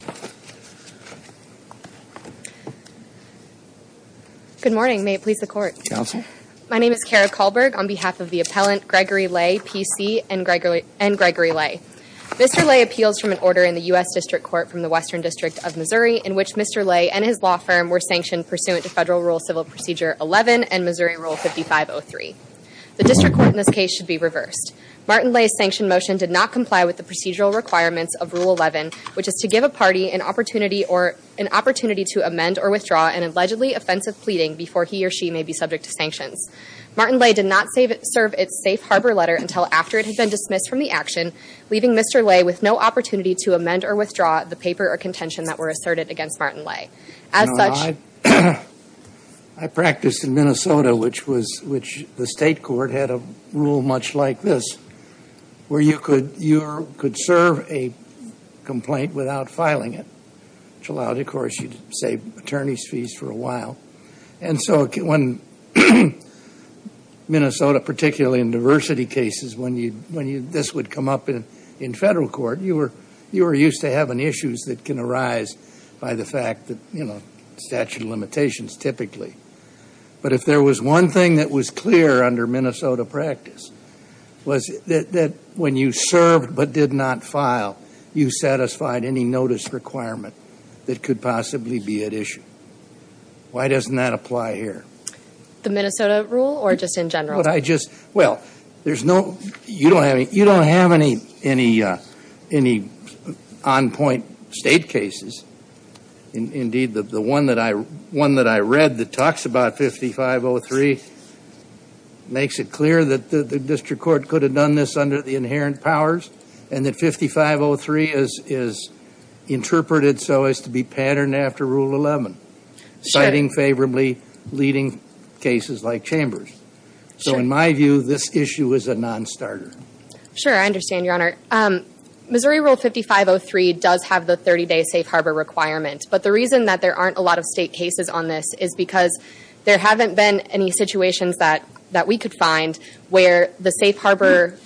Mr. Leyh appeals from an order in the U.S. District Court from the Western District of Missouri, in which Mr. Leyh and his law firm were sanctioned pursuant to Federal Rule Civil Procedure 11 and Missouri Rule 5503. The District Court in this case should be reversed. Martin Leigh's sanctioned motion did not comply with the procedural requirements of Rule 11, which is to give a party the right to use the property of a member of the U.S. District Court. Mr. Leigh did not give the party an opportunity to amend or withdraw an allegedly offensive pleading before he or she may be subject to sanctions. Martin Leigh did not serve its safe harbor letter until after it had been dismissed from the action, leaving Mr. Leigh with no opportunity to amend or withdraw the paper or contention that were asserted against Martin Leigh. I practiced in Minnesota, which the state court had a rule much like this. Where you could serve a complaint without filing it, which allowed you to save attorney's fees for a while. And so when Minnesota, particularly in diversity cases, when this would come up in federal court, you were used to having issues that can arise by the fact that, you know, statute of limitations typically. But if there was one thing that was clear under Minnesota practice, was that when you served but did not file, you satisfied any notice requirement that could possibly be at issue. Why doesn't that apply here? The Minnesota rule or just in general? Well, you don't have any on-point state cases. Indeed, the one that I read that talks about 5503 makes it clear that the district court could have done this under the inherent powers. And that 5503 is interpreted so as to be patterned after Rule 11. Citing favorably leading cases like Chambers. So in my view, this issue is a non-starter. Sure, I understand, Your Honor. Missouri Rule 5503 does have the 30-day safe harbor requirement. But the reason that there aren't a lot of state cases on this is because there haven't been any situations that we could find where the safe harbor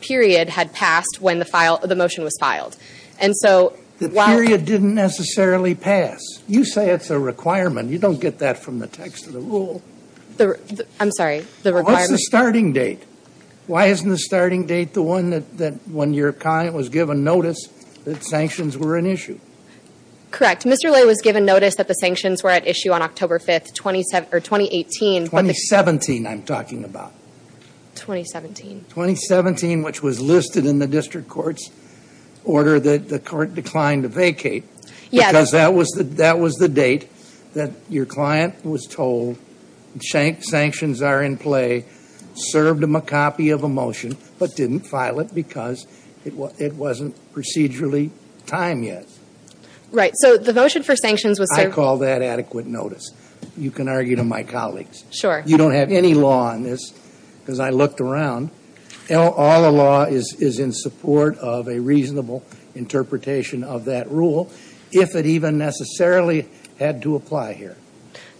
period had passed when the motion was filed. The period didn't necessarily pass. You say it's a requirement. You don't get that from the text of the rule. I'm sorry. What's the starting date? Why isn't the starting date the one that when your client was given notice that sanctions were an issue? Correct. Mr. Lay was given notice that the sanctions were at issue on October 5th, 2018. 2017 I'm talking about. 2017. 2017, which was listed in the district court's order that the court declined to vacate. Yeah. Because that was the date that your client was told sanctions are in play, served him a copy of a motion, but didn't file it because it wasn't procedurally timed yet. Right. So the motion for sanctions was served. I call that adequate notice. You can argue to my colleagues. Sure. You don't have any law on this because I looked around. All the law is in support of a reasonable interpretation of that rule if it even necessarily had to apply here.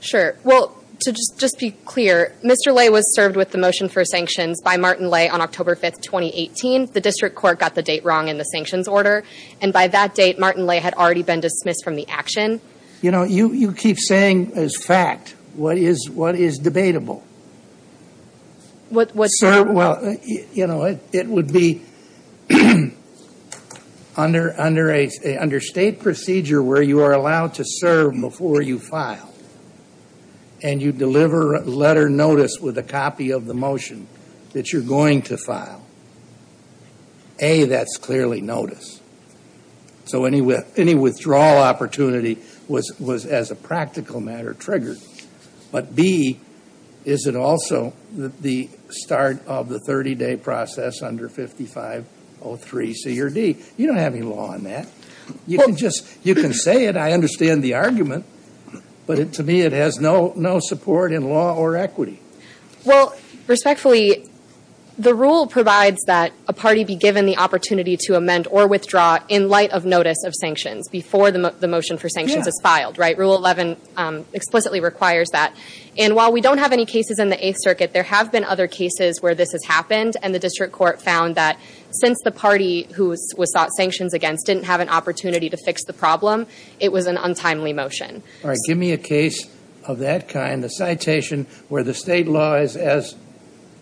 Sure. Well, to just be clear, Mr. Lay was served with the motion for sanctions by Martin Lay on October 5th, 2018. The district court got the date wrong in the sanctions order. And by that date, Martin Lay had already been dismissed from the action. You know, you keep saying as fact what is debatable. Well, you know, it would be under state procedure where you are allowed to serve before you file. And you deliver letter notice with a copy of the motion that you're going to file. A, that's clearly notice. So any withdrawal opportunity was as a practical matter triggered. But B, is it also the start of the 30-day process under 5503 C or D? You don't have any law on that. You can say it. I understand the argument. But to me, it has no support in law or equity. Well, respectfully, the rule provides that a party be given the opportunity to amend or withdraw in light of notice of sanctions before the motion for sanctions is filed. Right? Rule 11 explicitly requires that. And while we don't have any cases in the Eighth Circuit, there have been other cases where this has happened. And the district court found that since the party who was sought sanctions against didn't have an opportunity to fix the problem, it was an untimely motion. All right. Give me a case of that kind. A citation where the state law is as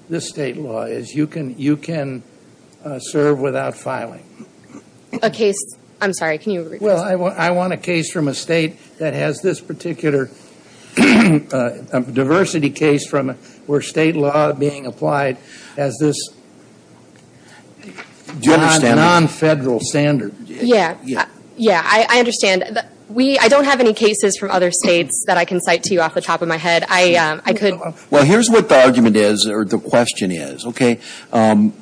this state law is. You can serve without filing. A case? I'm sorry. Can you repeat that? Well, I want a case from a state that has this particular diversity case from where state law being applied as this non-federal standard. Yeah. Yeah, I understand. I don't have any cases from other states that I can cite to you off the top of my head. I could. Well, here's what the argument is or the question is. Okay.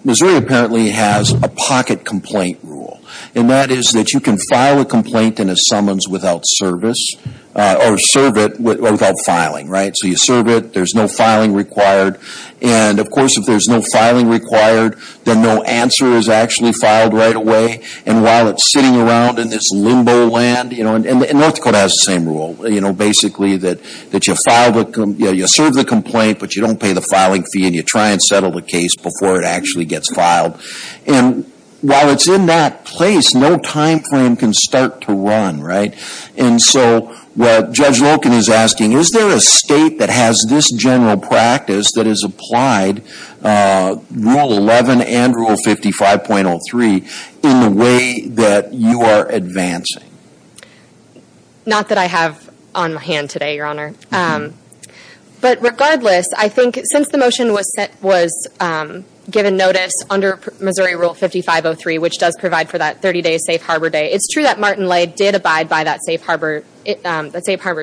Missouri apparently has a pocket complaint rule. And that is that you can file a complaint in a summons without service or serve it without filing. Right? So you serve it. There's no filing required. And, of course, if there's no filing required, then no answer is actually filed right away. And while it's sitting around in this limbo land. And North Dakota has the same rule. Basically that you serve the complaint but you don't pay the filing fee and you try and settle the case before it actually gets filed. And while it's in that place, no time frame can start to run. Right? And so Judge Loken is asking, is there a state that has this general practice that is applied, Rule 11 and Rule 55.03, in the way that you are advancing? Not that I have on my hand today, Your Honor. But regardless, I think since the motion was given notice under Missouri Rule 5503, which does provide for that 30-day safe harbor day, it's true that Martin Lay did abide by that safe harbor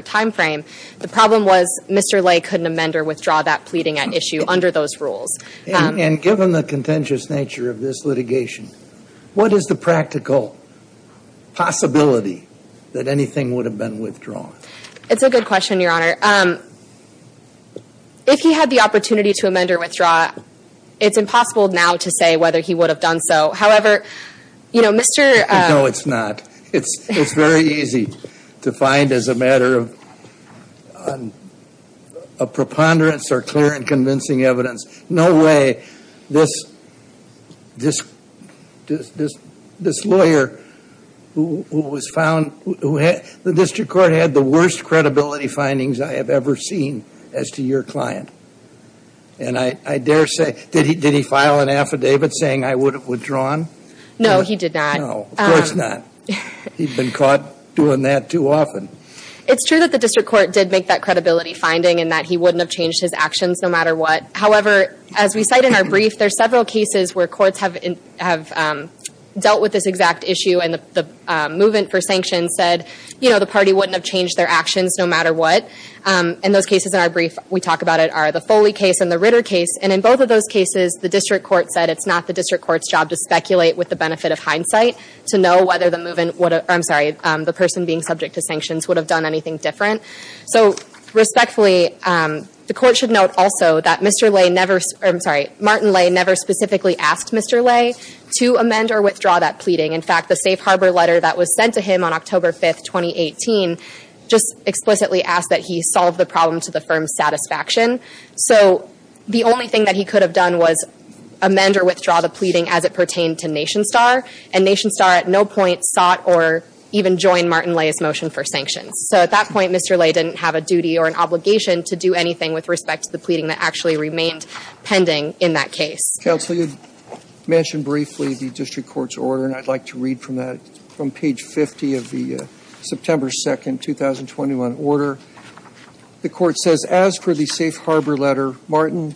time frame. The problem was Mr. Lay couldn't amend or withdraw that pleading at issue under those rules. And given the contentious nature of this litigation, what is the practical possibility that anything would have been withdrawn? It's a good question, Your Honor. If he had the opportunity to amend or withdraw, it's impossible now to say whether he would have done so. However, you know, Mr. No, it's not. It's very easy to find as a matter of preponderance or clear and convincing evidence. No way this lawyer who was found, the district court had the worst credibility findings I have ever seen as to your client. And I dare say, did he file an affidavit saying I would have withdrawn? No, he did not. No, of course not. He'd been caught doing that too often. It's true that the district court did make that credibility finding and that he wouldn't have changed his actions no matter what. However, as we cite in our brief, there are several cases where courts have dealt with this exact issue and the movement for sanctions said, you know, the party wouldn't have changed their actions no matter what. And those cases in our brief, we talk about it, are the Foley case and the Ritter case. And in both of those cases, the district court said it's not the district court's job to speculate with the benefit of hindsight, to know whether the person being subject to sanctions would have done anything different. So respectfully, the court should note also that Martin Lay never specifically asked Mr. Lay to amend or withdraw that pleading. In fact, the Safe Harbor letter that was sent to him on October 5th, 2018, just explicitly asked that he solve the problem to the firm's satisfaction. So the only thing that he could have done was amend or withdraw the pleading as it pertained to NationStar. And NationStar at no point sought or even joined Martin Lay's motion for sanctions. So at that point, Mr. Lay didn't have a duty or an obligation to do anything with respect to the pleading that actually remained pending in that case. Counsel, you mentioned briefly the district court's order, and I'd like to read from that, from page 50 of the September 2nd, 2021 order. The court says, as for the Safe Harbor letter, Martin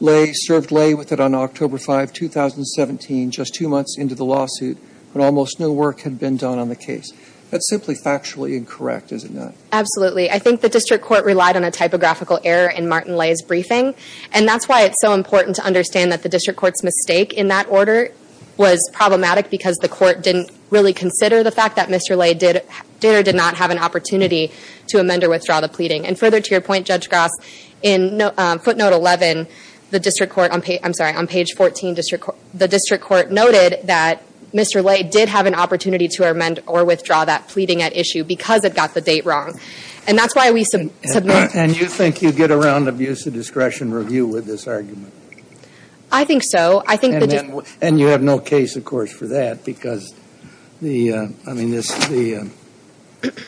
Lay served Lay with it on October 5, 2017, just two months into the lawsuit, when almost no work had been done on the case. That's simply factually incorrect, is it not? Absolutely. I think the district court relied on a typographical error in Martin Lay's briefing, and that's why it's so important to understand that the district court's mistake in that order was problematic because the court didn't really consider the fact that Mr. Lay did or did not have an opportunity to amend or withdraw the pleading. And further to your point, Judge Gross, in footnote 11, the district court, I'm sorry, on page 14, the district court noted that Mr. Lay did have an opportunity to amend or withdraw that pleading at issue because it got the date wrong. And that's why we submit. And you think you get around abuse of discretion review with this argument? I think so. And you have no case, of course, for that because the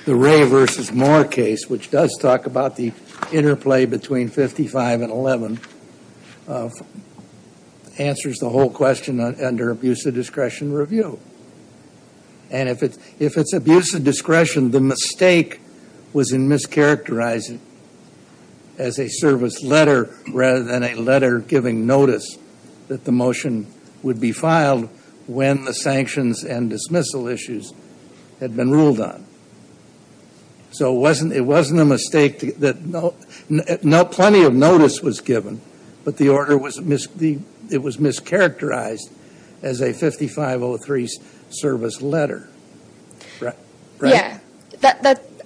Ray v. Moore case, which does talk about the interplay between 55 and 11, answers the whole question under abuse of discretion review. And if it's abuse of discretion, the mistake was in mischaracterizing it as a service letter rather than a letter giving notice that the motion would be filed when the sanctions and dismissal issues had been ruled on. So it wasn't a mistake. Plenty of notice was given, but it was mischaracterized as a 5503 service letter. Yeah.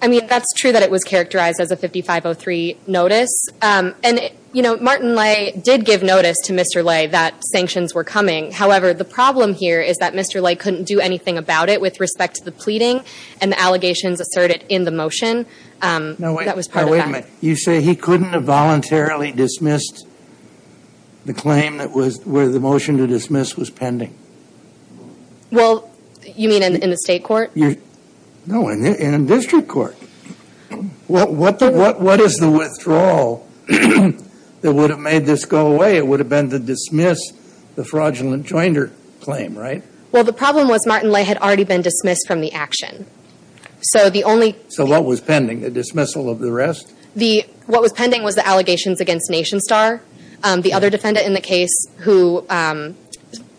I mean, that's true that it was characterized as a 5503 notice. And, you know, Martin Lay did give notice to Mr. Lay that sanctions were coming. However, the problem here is that Mr. Lay couldn't do anything about it with respect to the pleading and the allegations asserted in the motion. Now, wait a minute. You say he couldn't have voluntarily dismissed the claim where the motion to dismiss was pending? Well, you mean in the state court? No, in district court. What is the withdrawal that would have made this go away? It would have been to dismiss the fraudulent joinder claim, right? Well, the problem was Martin Lay had already been dismissed from the action. So the only thing- So what was pending? The dismissal of the rest? What was pending was the allegations against NationStar, the other defendant in the case who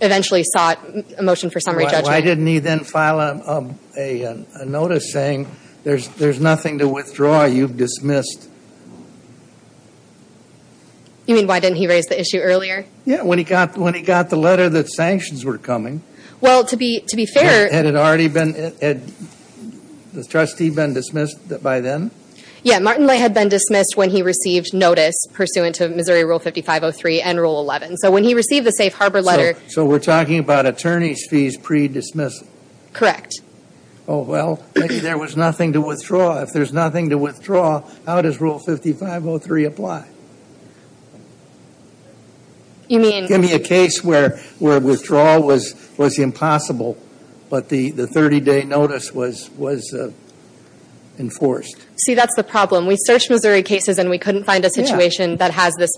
eventually sought a motion for summary judgment. Why didn't he then file a notice saying there's nothing to withdraw, you've dismissed? You mean why didn't he raise the issue earlier? Yeah, when he got the letter that sanctions were coming. Well, to be fair- Had it already been- had the trustee been dismissed by then? Yeah, Martin Lay had been dismissed when he received notice pursuant to Missouri Rule 5503 and Rule 11. So when he received the safe harbor letter- Correct. Oh, well, maybe there was nothing to withdraw. If there's nothing to withdraw, how does Rule 5503 apply? You mean- Give me a case where withdrawal was impossible, but the 30-day notice was enforced. See, that's the problem. We searched Missouri cases and we couldn't find a situation that has this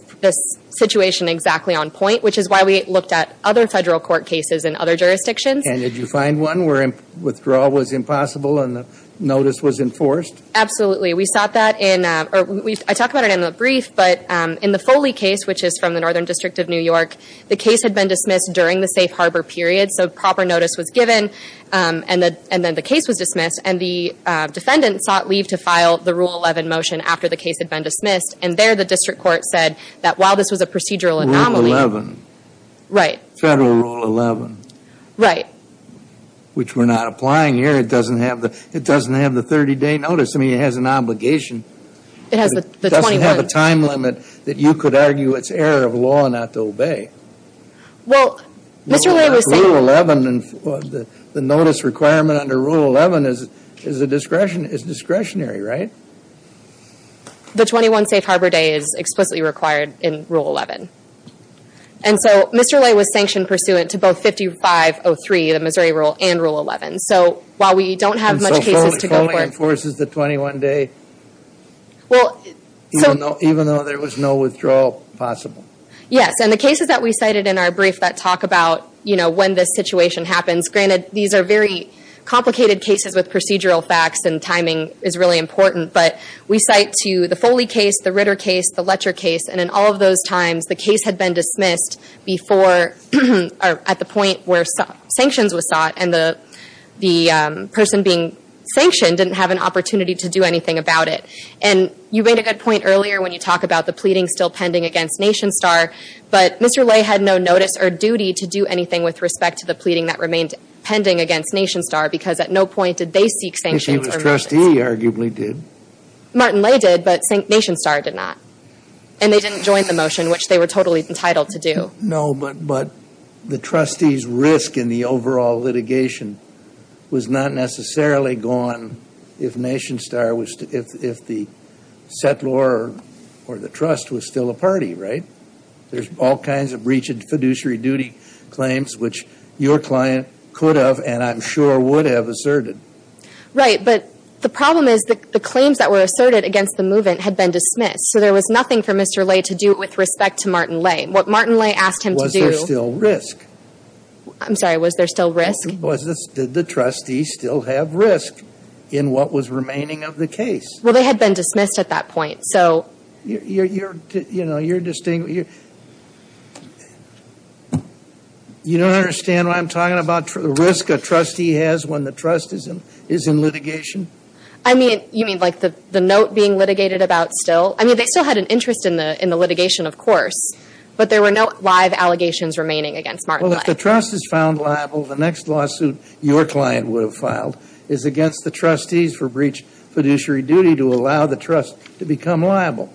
situation exactly on point, which is why we looked at other federal court cases in other jurisdictions. And did you find one where withdrawal was impossible and the notice was enforced? Absolutely. We sought that in- I talk about it in the brief, but in the Foley case, which is from the Northern District of New York, the case had been dismissed during the safe harbor period, so proper notice was given, and then the case was dismissed, and the defendant sought leave to file the Rule 11 motion after the case had been dismissed, and there the district court said that while this was a procedural anomaly- Rule 11. Right. Federal Rule 11. Right. Which we're not applying here. It doesn't have the 30-day notice. I mean, it has an obligation. It has the 21- It doesn't have a time limit that you could argue it's error of law not to obey. Well, Mr. Lay was- Rule 11, the notice requirement under Rule 11 is discretionary, right? The 21 safe harbor day is explicitly required in Rule 11. And so Mr. Lay was sanctioned pursuant to both 5503, the Missouri Rule, and Rule 11. So while we don't have much cases to go for- And so Foley enforces the 21-day even though there was no withdrawal possible? Yes, and the cases that we cited in our brief that talk about, you know, when this situation happens, granted these are very complicated cases with procedural facts and timing is really important, but we cite to the Foley case, the Ritter case, the Letcher case, and in all of those times the case had been dismissed before or at the point where sanctions were sought and the person being sanctioned didn't have an opportunity to do anything about it. And you made a good point earlier when you talk about the pleading still pending against NationStar, but Mr. Lay had no notice or duty to do anything with respect to the pleading that remained pending against NationStar because at no point did they seek sanctions or notices. If he was trustee, he arguably did. Martin Lay did, but NationStar did not. And they didn't join the motion, which they were totally entitled to do. No, but the trustee's risk in the overall litigation was not necessarily gone if NationStar was- if the settlor or the trust was still a party, right? There's all kinds of breaching fiduciary duty claims, which your client could have and I'm sure would have asserted. Right, but the problem is that the claims that were asserted against the movement had been dismissed, so there was nothing for Mr. Lay to do with respect to Martin Lay. What Martin Lay asked him to do- Was there still risk? I'm sorry, was there still risk? Did the trustee still have risk in what was remaining of the case? Well, they had been dismissed at that point, so- You're- you don't understand what I'm talking about? The risk a trustee has when the trust is in litigation? I mean, you mean like the note being litigated about still- I mean, they still had an interest in the litigation, of course, but there were no live allegations remaining against Martin Lay. Well, if the trust is found liable, the next lawsuit your client would have filed is against the trustees for breach fiduciary duty to allow the trust to become liable.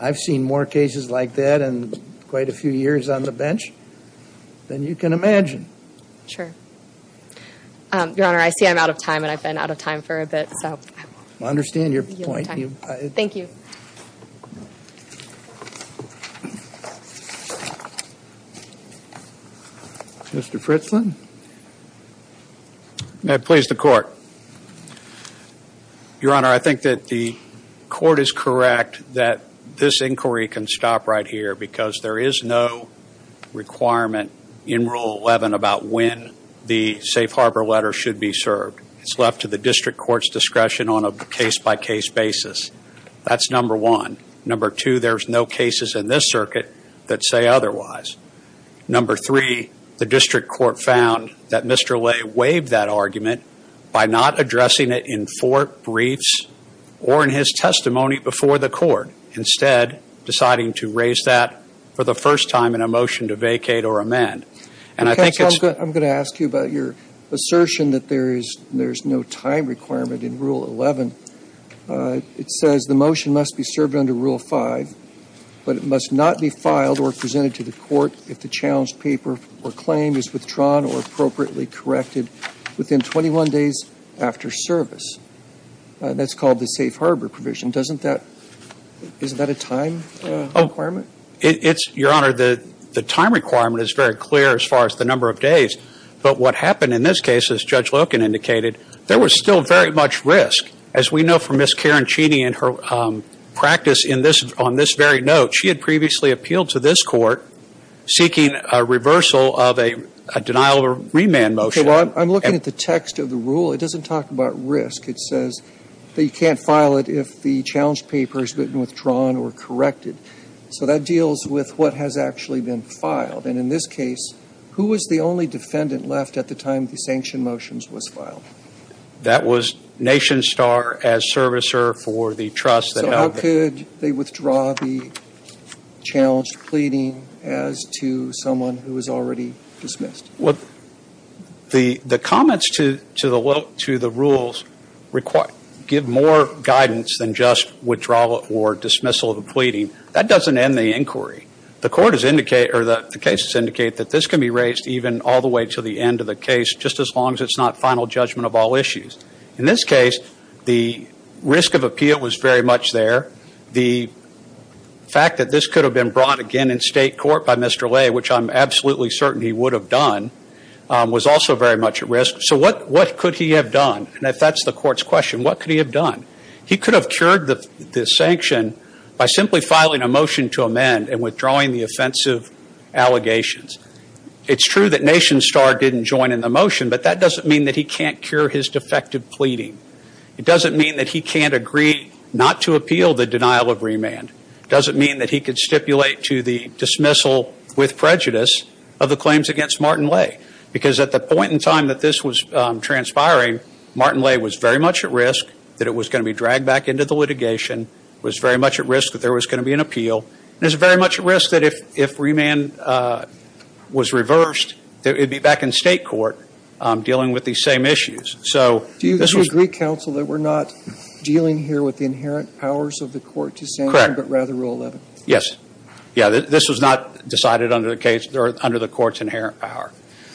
I've seen more cases like that in quite a few years on the bench than you can imagine. Sure. Your Honor, I see I'm out of time, and I've been out of time for a bit, so- I understand your point. Thank you. Mr. Fritzland? May it please the Court? Your Honor, I think that the Court is correct that this inquiry can stop right here because there is no requirement in Rule 11 about when the safe harbor letter should be served. It's left to the district court's discretion on a case-by-case basis. That's number one. Number two, there's no cases in this circuit that say otherwise. Number three, the district court found that Mr. Lay waived that argument by not addressing it in four briefs or in his testimony before the court, instead deciding to raise that for the first time in a motion to vacate or amend. I'm going to ask you about your assertion that there is no time requirement in Rule 11. It says the motion must be served under Rule 5, but it must not be filed or presented to the court if the challenged paper or claim is withdrawn or appropriately corrected within 21 days after service. That's called the safe harbor provision. Isn't that a time requirement? Your Honor, the time requirement is very clear as far as the number of days, but what happened in this case, as Judge Loken indicated, there was still very much risk. As we know from Ms. Caroncini and her practice on this very note, she had previously appealed to this Court seeking a reversal of a denial of remand motion. Well, I'm looking at the text of the rule. It doesn't talk about risk. It says that you can't file it if the challenged paper has been withdrawn or corrected. So that deals with what has actually been filed. And in this case, who was the only defendant left at the time the sanction motions was filed? That was Nation Star as servicer for the trust that held the ---- So how could they withdraw the challenged pleading as to someone who was already dismissed? Well, the comments to the rules give more guidance than just withdrawal or dismissal of the pleading. That doesn't end the inquiry. The court has indicated, or the cases indicate, that this can be raised even all the way to the end of the case, just as long as it's not final judgment of all issues. In this case, the risk of appeal was very much there. The fact that this could have been brought again in state court by Mr. Lay, which I'm absolutely certain he would have done, was also very much at risk. So what could he have done? And if that's the court's question, what could he have done? He could have cured the sanction by simply filing a motion to amend and withdrawing the offensive allegations. It's true that Nation Star didn't join in the motion, but that doesn't mean that he can't cure his defective pleading. It doesn't mean that he can't agree not to appeal the denial of remand. It doesn't mean that he could stipulate to the dismissal with prejudice of the claims against Martin Lay. Because at the point in time that this was transpiring, Martin Lay was very much at risk that it was going to be dragged back into the litigation, was very much at risk that there was going to be an appeal, and was very much at risk that if remand was reversed, it would be back in state court dealing with these same issues. So this was – Do you agree, counsel, that we're not dealing here with the inherent powers of the court to sanction – Correct. – but rather Rule 11? Yes. Yeah, this was not decided under the court's inherent power.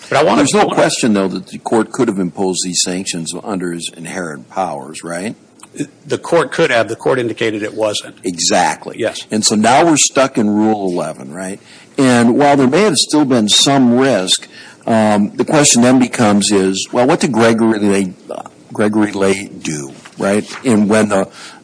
There's no question, though, that the court could have imposed these sanctions under his inherent powers, right? The court could have. The court indicated it wasn't. Exactly. Yes. And so now we're stuck in Rule 11, right? And while there may have still been some risk, the question then becomes is, well, what did Gregory Lay do, right?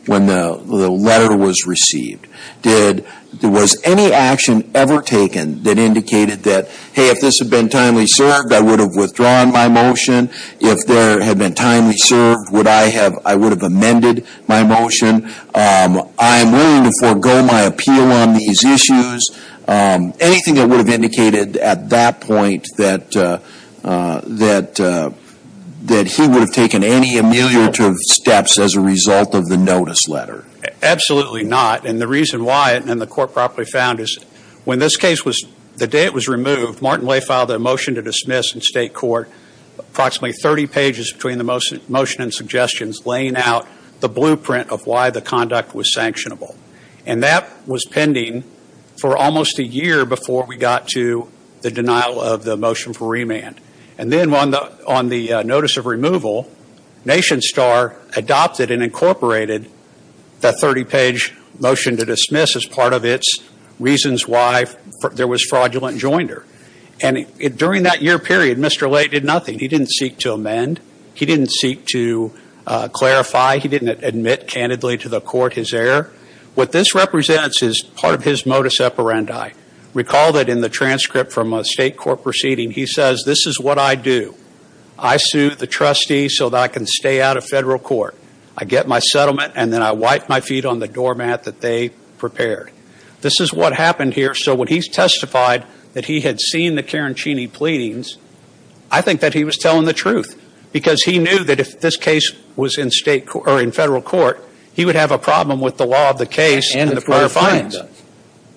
When the letter was received, did – was any action ever taken that indicated that, hey, if this had been timely served, I would have withdrawn my motion. If there had been timely served, would I have – I would have amended my motion. I'm willing to forego my appeal on these issues. Anything that would have indicated at that point that he would have taken any ameliorative steps as a result of the notice letter? Absolutely not. And the reason why, and the court properly found, is when this case was – the day it was removed, Martin Lay filed a motion to dismiss in state court approximately 30 pages between the motion and suggestions, laying out the blueprint of why the conduct was sanctionable. And that was pending for almost a year before we got to the denial of the motion for remand. And then on the notice of removal, NationStar adopted and incorporated the 30-page motion to dismiss as part of its reasons why there was fraudulent joinder. And during that year period, Mr. Lay did nothing. He didn't seek to amend. He didn't seek to clarify. He didn't admit candidly to the court his error. What this represents is part of his modus operandi. Recall that in the transcript from a state court proceeding, he says, This is what I do. I sue the trustee so that I can stay out of federal court. I get my settlement, and then I wipe my feet on the doormat that they prepared. This is what happened here. So when he testified that he had seen the Carancini pleadings, I think that he was telling the truth. Because he knew that if this case was in federal court, he would have a problem with the law of the case and the prior fines. And it's what his client does.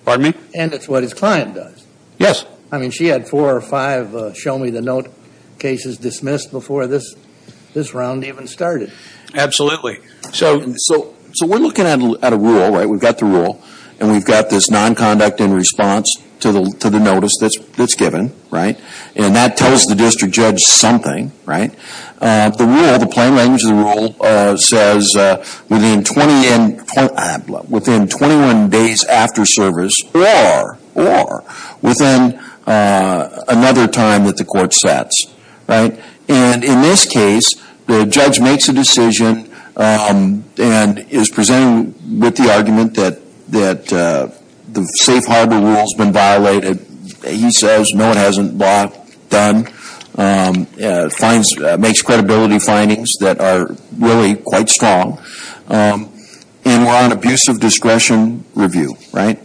Pardon me? And it's what his client does. Yes. I mean, she had four or five show-me-the-note cases dismissed before this round even started. Absolutely. So we're looking at a rule, right? We've got the rule, and we've got this nonconduct in response to the notice that's given, right? And that tells the district judge something, right? The rule, the plain language of the rule, says within 21 days after service or within another time that the court sets, right? And in this case, the judge makes a decision and is presenting with the argument that the safe harbor rule has been violated. He says, no, it hasn't, blah, done. Makes credibility findings that are really quite strong. And we're on abusive discretion review, right?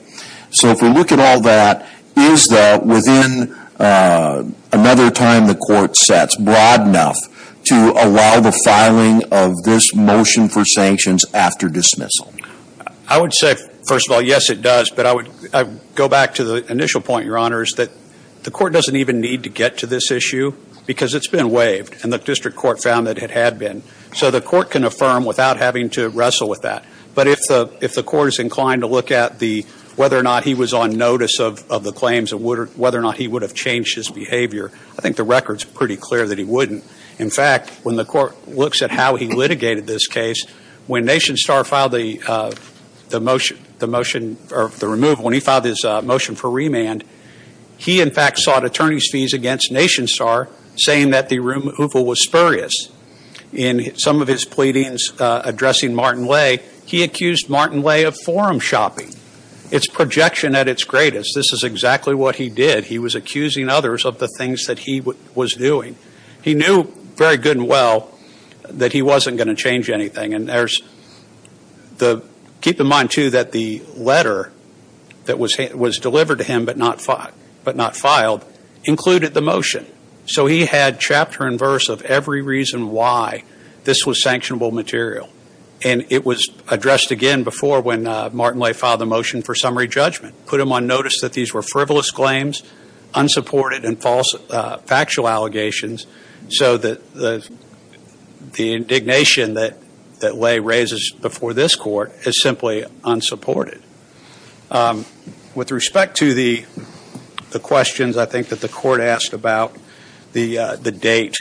So if we look at all that, is that within another time the court sets broad enough to allow the filing of this motion for sanctions after dismissal? I would say, first of all, yes, it does. But I would go back to the initial point, Your Honors, that the court doesn't even need to get to this issue because it's been waived. And the district court found that it had been. So the court can affirm without having to wrestle with that. But if the court is inclined to look at whether or not he was on notice of the claims and whether or not he would have changed his behavior, I think the record's pretty clear that he wouldn't. In fact, when the court looks at how he litigated this case, when NationStar filed the motion, the motion, or the removal, when he filed his motion for remand, he, in fact, sought attorney's fees against NationStar, saying that the removal was spurious. In some of his pleadings addressing Martin Lay, he accused Martin Lay of forum shopping. It's projection at its greatest. This is exactly what he did. He was accusing others of the things that he was doing. He knew very good and well that he wasn't going to change anything. And keep in mind, too, that the letter that was delivered to him but not filed included the motion. So he had chapter and verse of every reason why this was sanctionable material. And it was addressed again before when Martin Lay filed the motion for summary judgment, put him on notice that these were frivolous claims, unsupported and false factual allegations, so that the indignation that Lay raises before this court is simply unsupported. With respect to the questions, I think, that the court asked about the date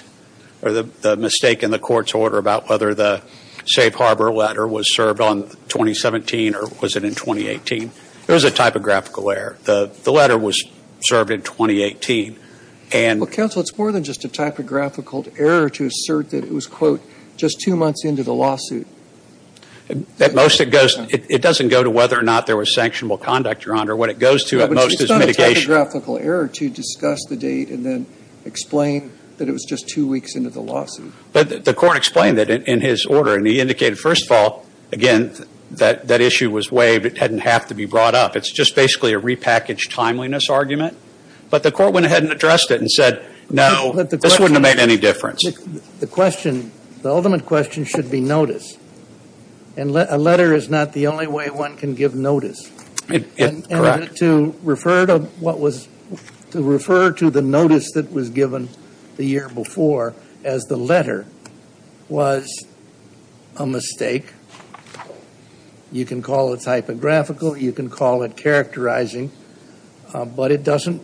or the mistake in the court's order about whether the safe harbor letter was served on 2017 or was it in 2018, there was a typographical error. The letter was served in 2018. Well, counsel, it's more than just a typographical error to assert that it was, quote, just two months into the lawsuit. At most, it doesn't go to whether or not there was sanctionable conduct, Your Honor. What it goes to at most is mitigation. It's not a typographical error to discuss the date and then explain that it was just two weeks into the lawsuit. But the court explained it in his order, and he indicated, first of all, again, that that issue was waived. It didn't have to be brought up. It's just basically a repackaged timeliness argument. But the court went ahead and addressed it and said, no, this wouldn't have made any difference. The question, the ultimate question should be notice. And a letter is not the only way one can give notice. Correct. And to refer to what was, to refer to the notice that was given the year before as the letter was a mistake, you can call it typographical, you can call it characterizing, but it doesn't,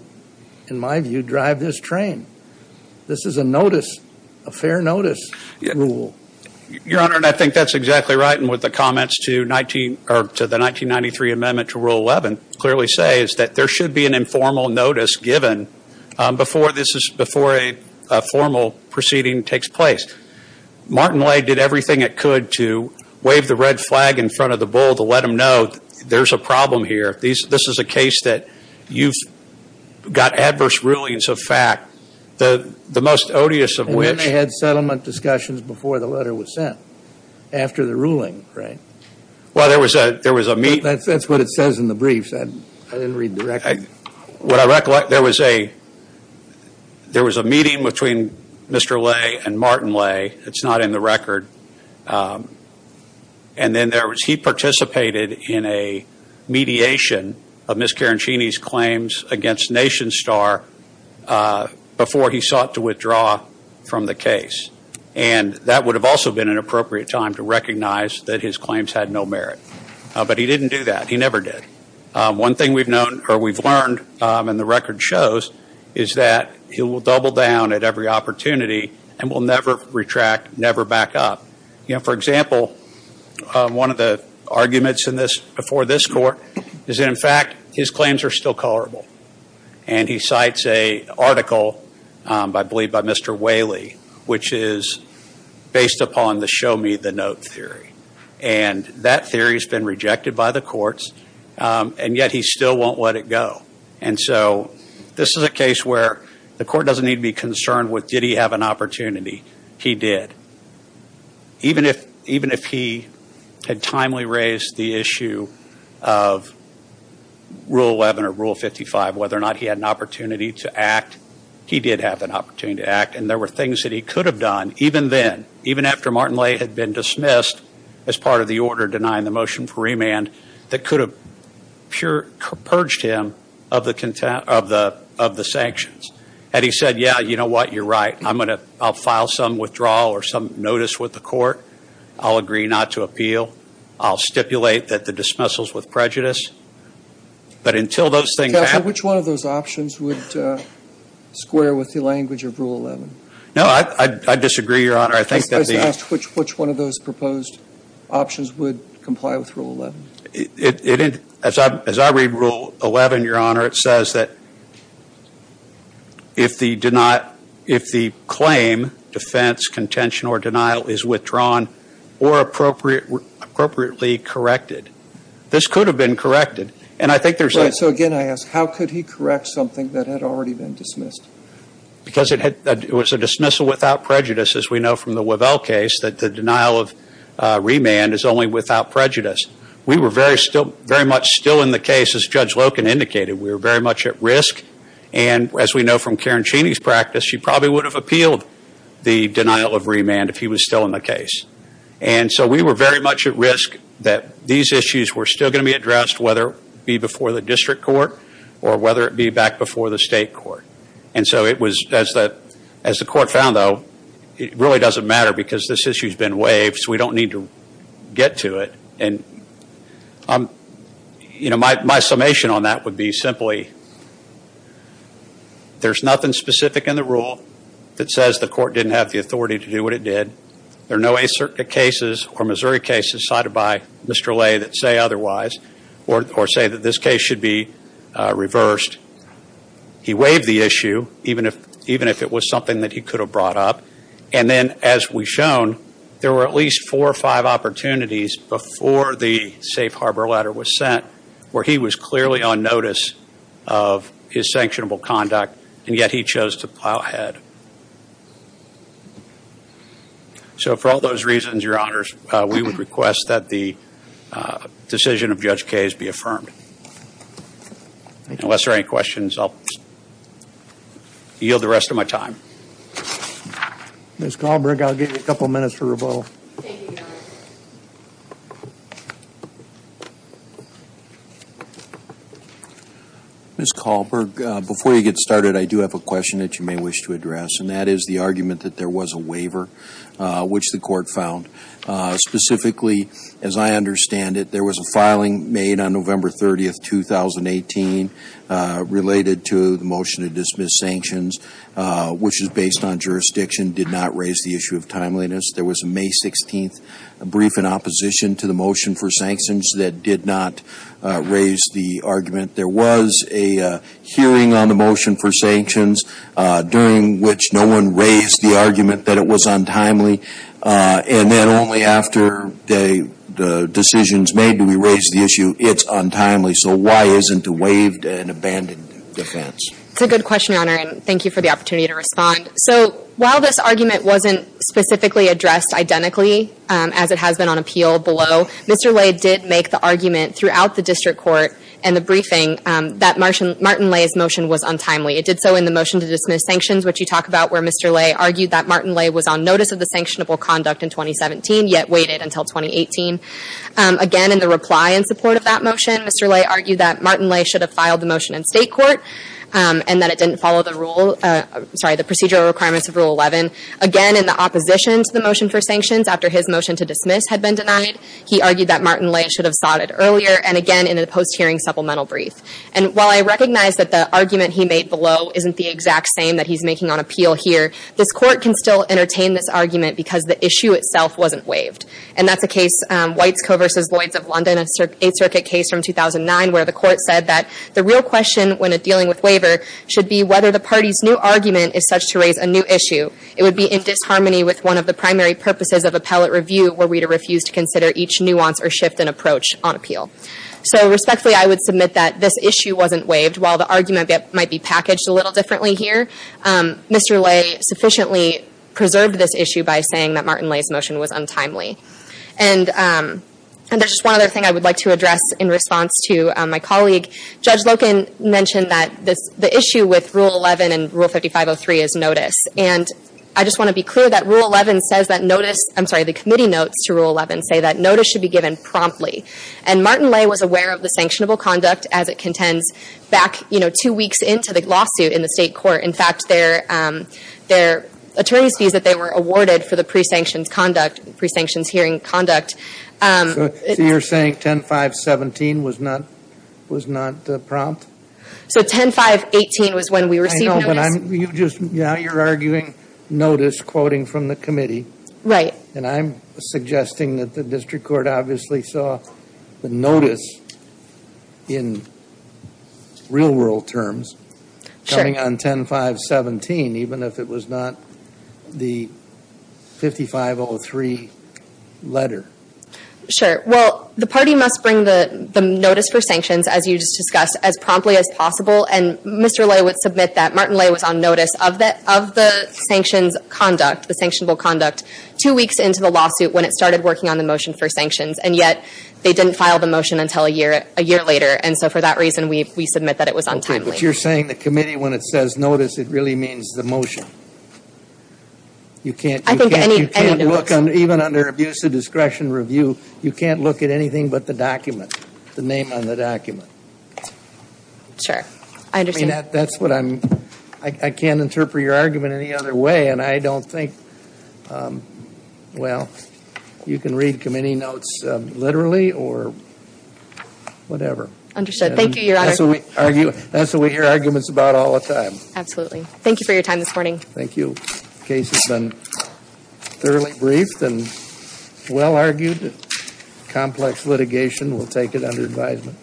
in my view, drive this train. This is a notice, a fair notice rule. Your Honor, and I think that's exactly right. And what the comments to the 1993 amendment to Rule 11 clearly say is that there should be an informal notice given before a formal proceeding takes place. Martin Lay did everything it could to wave the red flag in front of the bull to let him know there's a problem here. This is a case that you've got adverse rulings of fact. The most odious of which. And then they had settlement discussions before the letter was sent, after the ruling, right? Well, there was a meeting. That's what it says in the briefs. I didn't read the record. What I recollect, there was a meeting between Mr. Lay and Martin Lay. It's not in the record. And then he participated in a mediation of Ms. Carancini's claims against Nation Star before he sought to withdraw from the case. And that would have also been an appropriate time to recognize that his claims had no merit. But he didn't do that. He never did. One thing we've learned and the record shows is that he will double down at every opportunity and will never retract, never back up. For example, one of the arguments before this court is that, in fact, his claims are still colorable. And he cites an article, I believe by Mr. Whaley, which is based upon the show me the note theory. And that theory has been rejected by the courts. And yet he still won't let it go. And so this is a case where the court doesn't need to be concerned with did he have an opportunity. He did. Even if he had timely raised the issue of Rule 11 or Rule 55, whether or not he had an opportunity to act, he did have an opportunity to act. And there were things that he could have done even then, even after Martin Lay had been dismissed as part of the order denying the motion for remand, that could have purged him of the sanctions. And he said, yeah, you know what, you're right. I'll file some withdrawal or some notice with the court. I'll agree not to appeal. I'll stipulate that the dismissal is with prejudice. But until those things happen. Counsel, which one of those options would square with the language of Rule 11? No, I disagree, Your Honor. Which one of those proposed options would comply with Rule 11? As I read Rule 11, Your Honor, it says that if the claim, defense, contention, or denial is withdrawn or appropriately corrected. This could have been corrected. Right, so again I ask, how could he correct something that had already been dismissed? Because it was a dismissal without prejudice, as we know from the Wavell case, that the denial of remand is only without prejudice. We were very much still in the case, as Judge Loken indicated. We were very much at risk. And as we know from Karen Cheney's practice, she probably would have appealed the denial of remand if he was still in the case. And so we were very much at risk that these issues were still going to be addressed, whether it be before the district court or whether it be back before the state court. And so as the court found, though, it really doesn't matter because this issue has been waived. So we don't need to get to it. And my summation on that would be simply, there's nothing specific in the rule that says the court didn't have the authority to do what it did. There are no ACIRCA cases or Missouri cases cited by Mr. Lay that say otherwise or say that this case should be reversed. He waived the issue, even if it was something that he could have brought up. And then, as we've shown, there were at least four or five opportunities before the safe harbor letter was sent where he was clearly on notice of his sanctionable conduct, and yet he chose to plow ahead. So for all those reasons, Your Honors, we would request that the decision of Judge Kaye's be affirmed. Unless there are any questions, I'll yield the rest of my time. Ms. Kahlberg, I'll give you a couple minutes for rebuttal. Thank you, Your Honors. Ms. Kahlberg, before you get started, I do have a question that you may wish to address, and that is the argument that there was a waiver, which the court found. Specifically, as I understand it, there was a filing made on November 30, 2018, related to the motion to dismiss sanctions, which is based on jurisdiction, did not raise the issue of timeliness. There was a May 16 brief in opposition to the motion for sanctions that did not raise the argument. There was a hearing on the motion for sanctions, during which no one raised the argument that it was untimely. And then only after the decisions made do we raise the issue, it's untimely. So why isn't a waived and abandoned defense? It's a good question, Your Honor, and thank you for the opportunity to respond. So while this argument wasn't specifically addressed identically, as it has been on appeal below, Mr. Ley did make the argument throughout the district court and the briefing that Martin Ley's motion was untimely. It did so in the motion to dismiss sanctions, which you talk about, where Mr. Ley argued that Martin Ley was on notice of the sanctionable conduct in 2017, yet waited until 2018. Again, in the reply in support of that motion, Mr. Ley argued that Martin Ley should have filed the motion in state court, and that it didn't follow the procedural requirements of Rule 11. Again, in the opposition to the motion for sanctions, after his motion to dismiss had been denied, he argued that Martin Ley should have sought it earlier, and again, in a post-hearing supplemental brief. And while I recognize that the argument he made below isn't the exact same that he's making on appeal here, this court can still entertain this argument because the issue itself wasn't waived. And that's a case, White's Co. v. Lloyds of London, an Eighth Circuit case from 2009, where the court said that the real question when dealing with waiver should be whether the party's new argument is such to raise a new issue. It would be in disharmony with one of the primary purposes of appellate review, were we to refuse to consider each nuance or shift in approach on appeal. So respectfully, I would submit that this issue wasn't waived. While the argument might be packaged a little differently here, Mr. Ley sufficiently preserved this issue by saying that Martin Ley's motion was untimely. And there's just one other thing I would like to address in response to my colleague. Judge Loken mentioned that the issue with Rule 11 and Rule 5503 is notice. And I just want to be clear that Rule 11 says that notice, I'm sorry, the committee notes to Rule 11 say that notice should be given promptly. And Martin Ley was aware of the sanctionable conduct as it contends back, you know, two weeks into the lawsuit in the state court. In fact, their attorney's fees that they were awarded for the pre-sanctioned conduct, pre-sanctions hearing conduct. So you're saying 10-5-17 was not prompt? So 10-5-18 was when we received notice. Now you're arguing notice quoting from the committee. Right. And I'm suggesting that the district court obviously saw the notice in real world terms coming on 10-5-17 even if it was not the 5503 letter. Sure. Well, the party must bring the notice for sanctions, as you just discussed, as promptly as possible. And Mr. Ley would submit that Martin Ley was on notice of the sanctions conduct, the sanctionable conduct, two weeks into the lawsuit when it started working on the motion for sanctions. And yet they didn't file the motion until a year later. And so for that reason, we submit that it was untimely. But you're saying the committee, when it says notice, it really means the motion. I think any motion. You can't look, even under abuse of discretion review, you can't look at anything but the document, the name on the document. Sure. I understand. I mean, that's what I'm, I can't interpret your argument any other way. And I don't think, well, you can read committee notes literally or whatever. Understood. Thank you, Your Honor. That's what we hear arguments about all the time. Absolutely. Thank you for your time this morning. Thank you. The case has been thoroughly briefed and well argued. Complex litigation, we'll take it under advisement.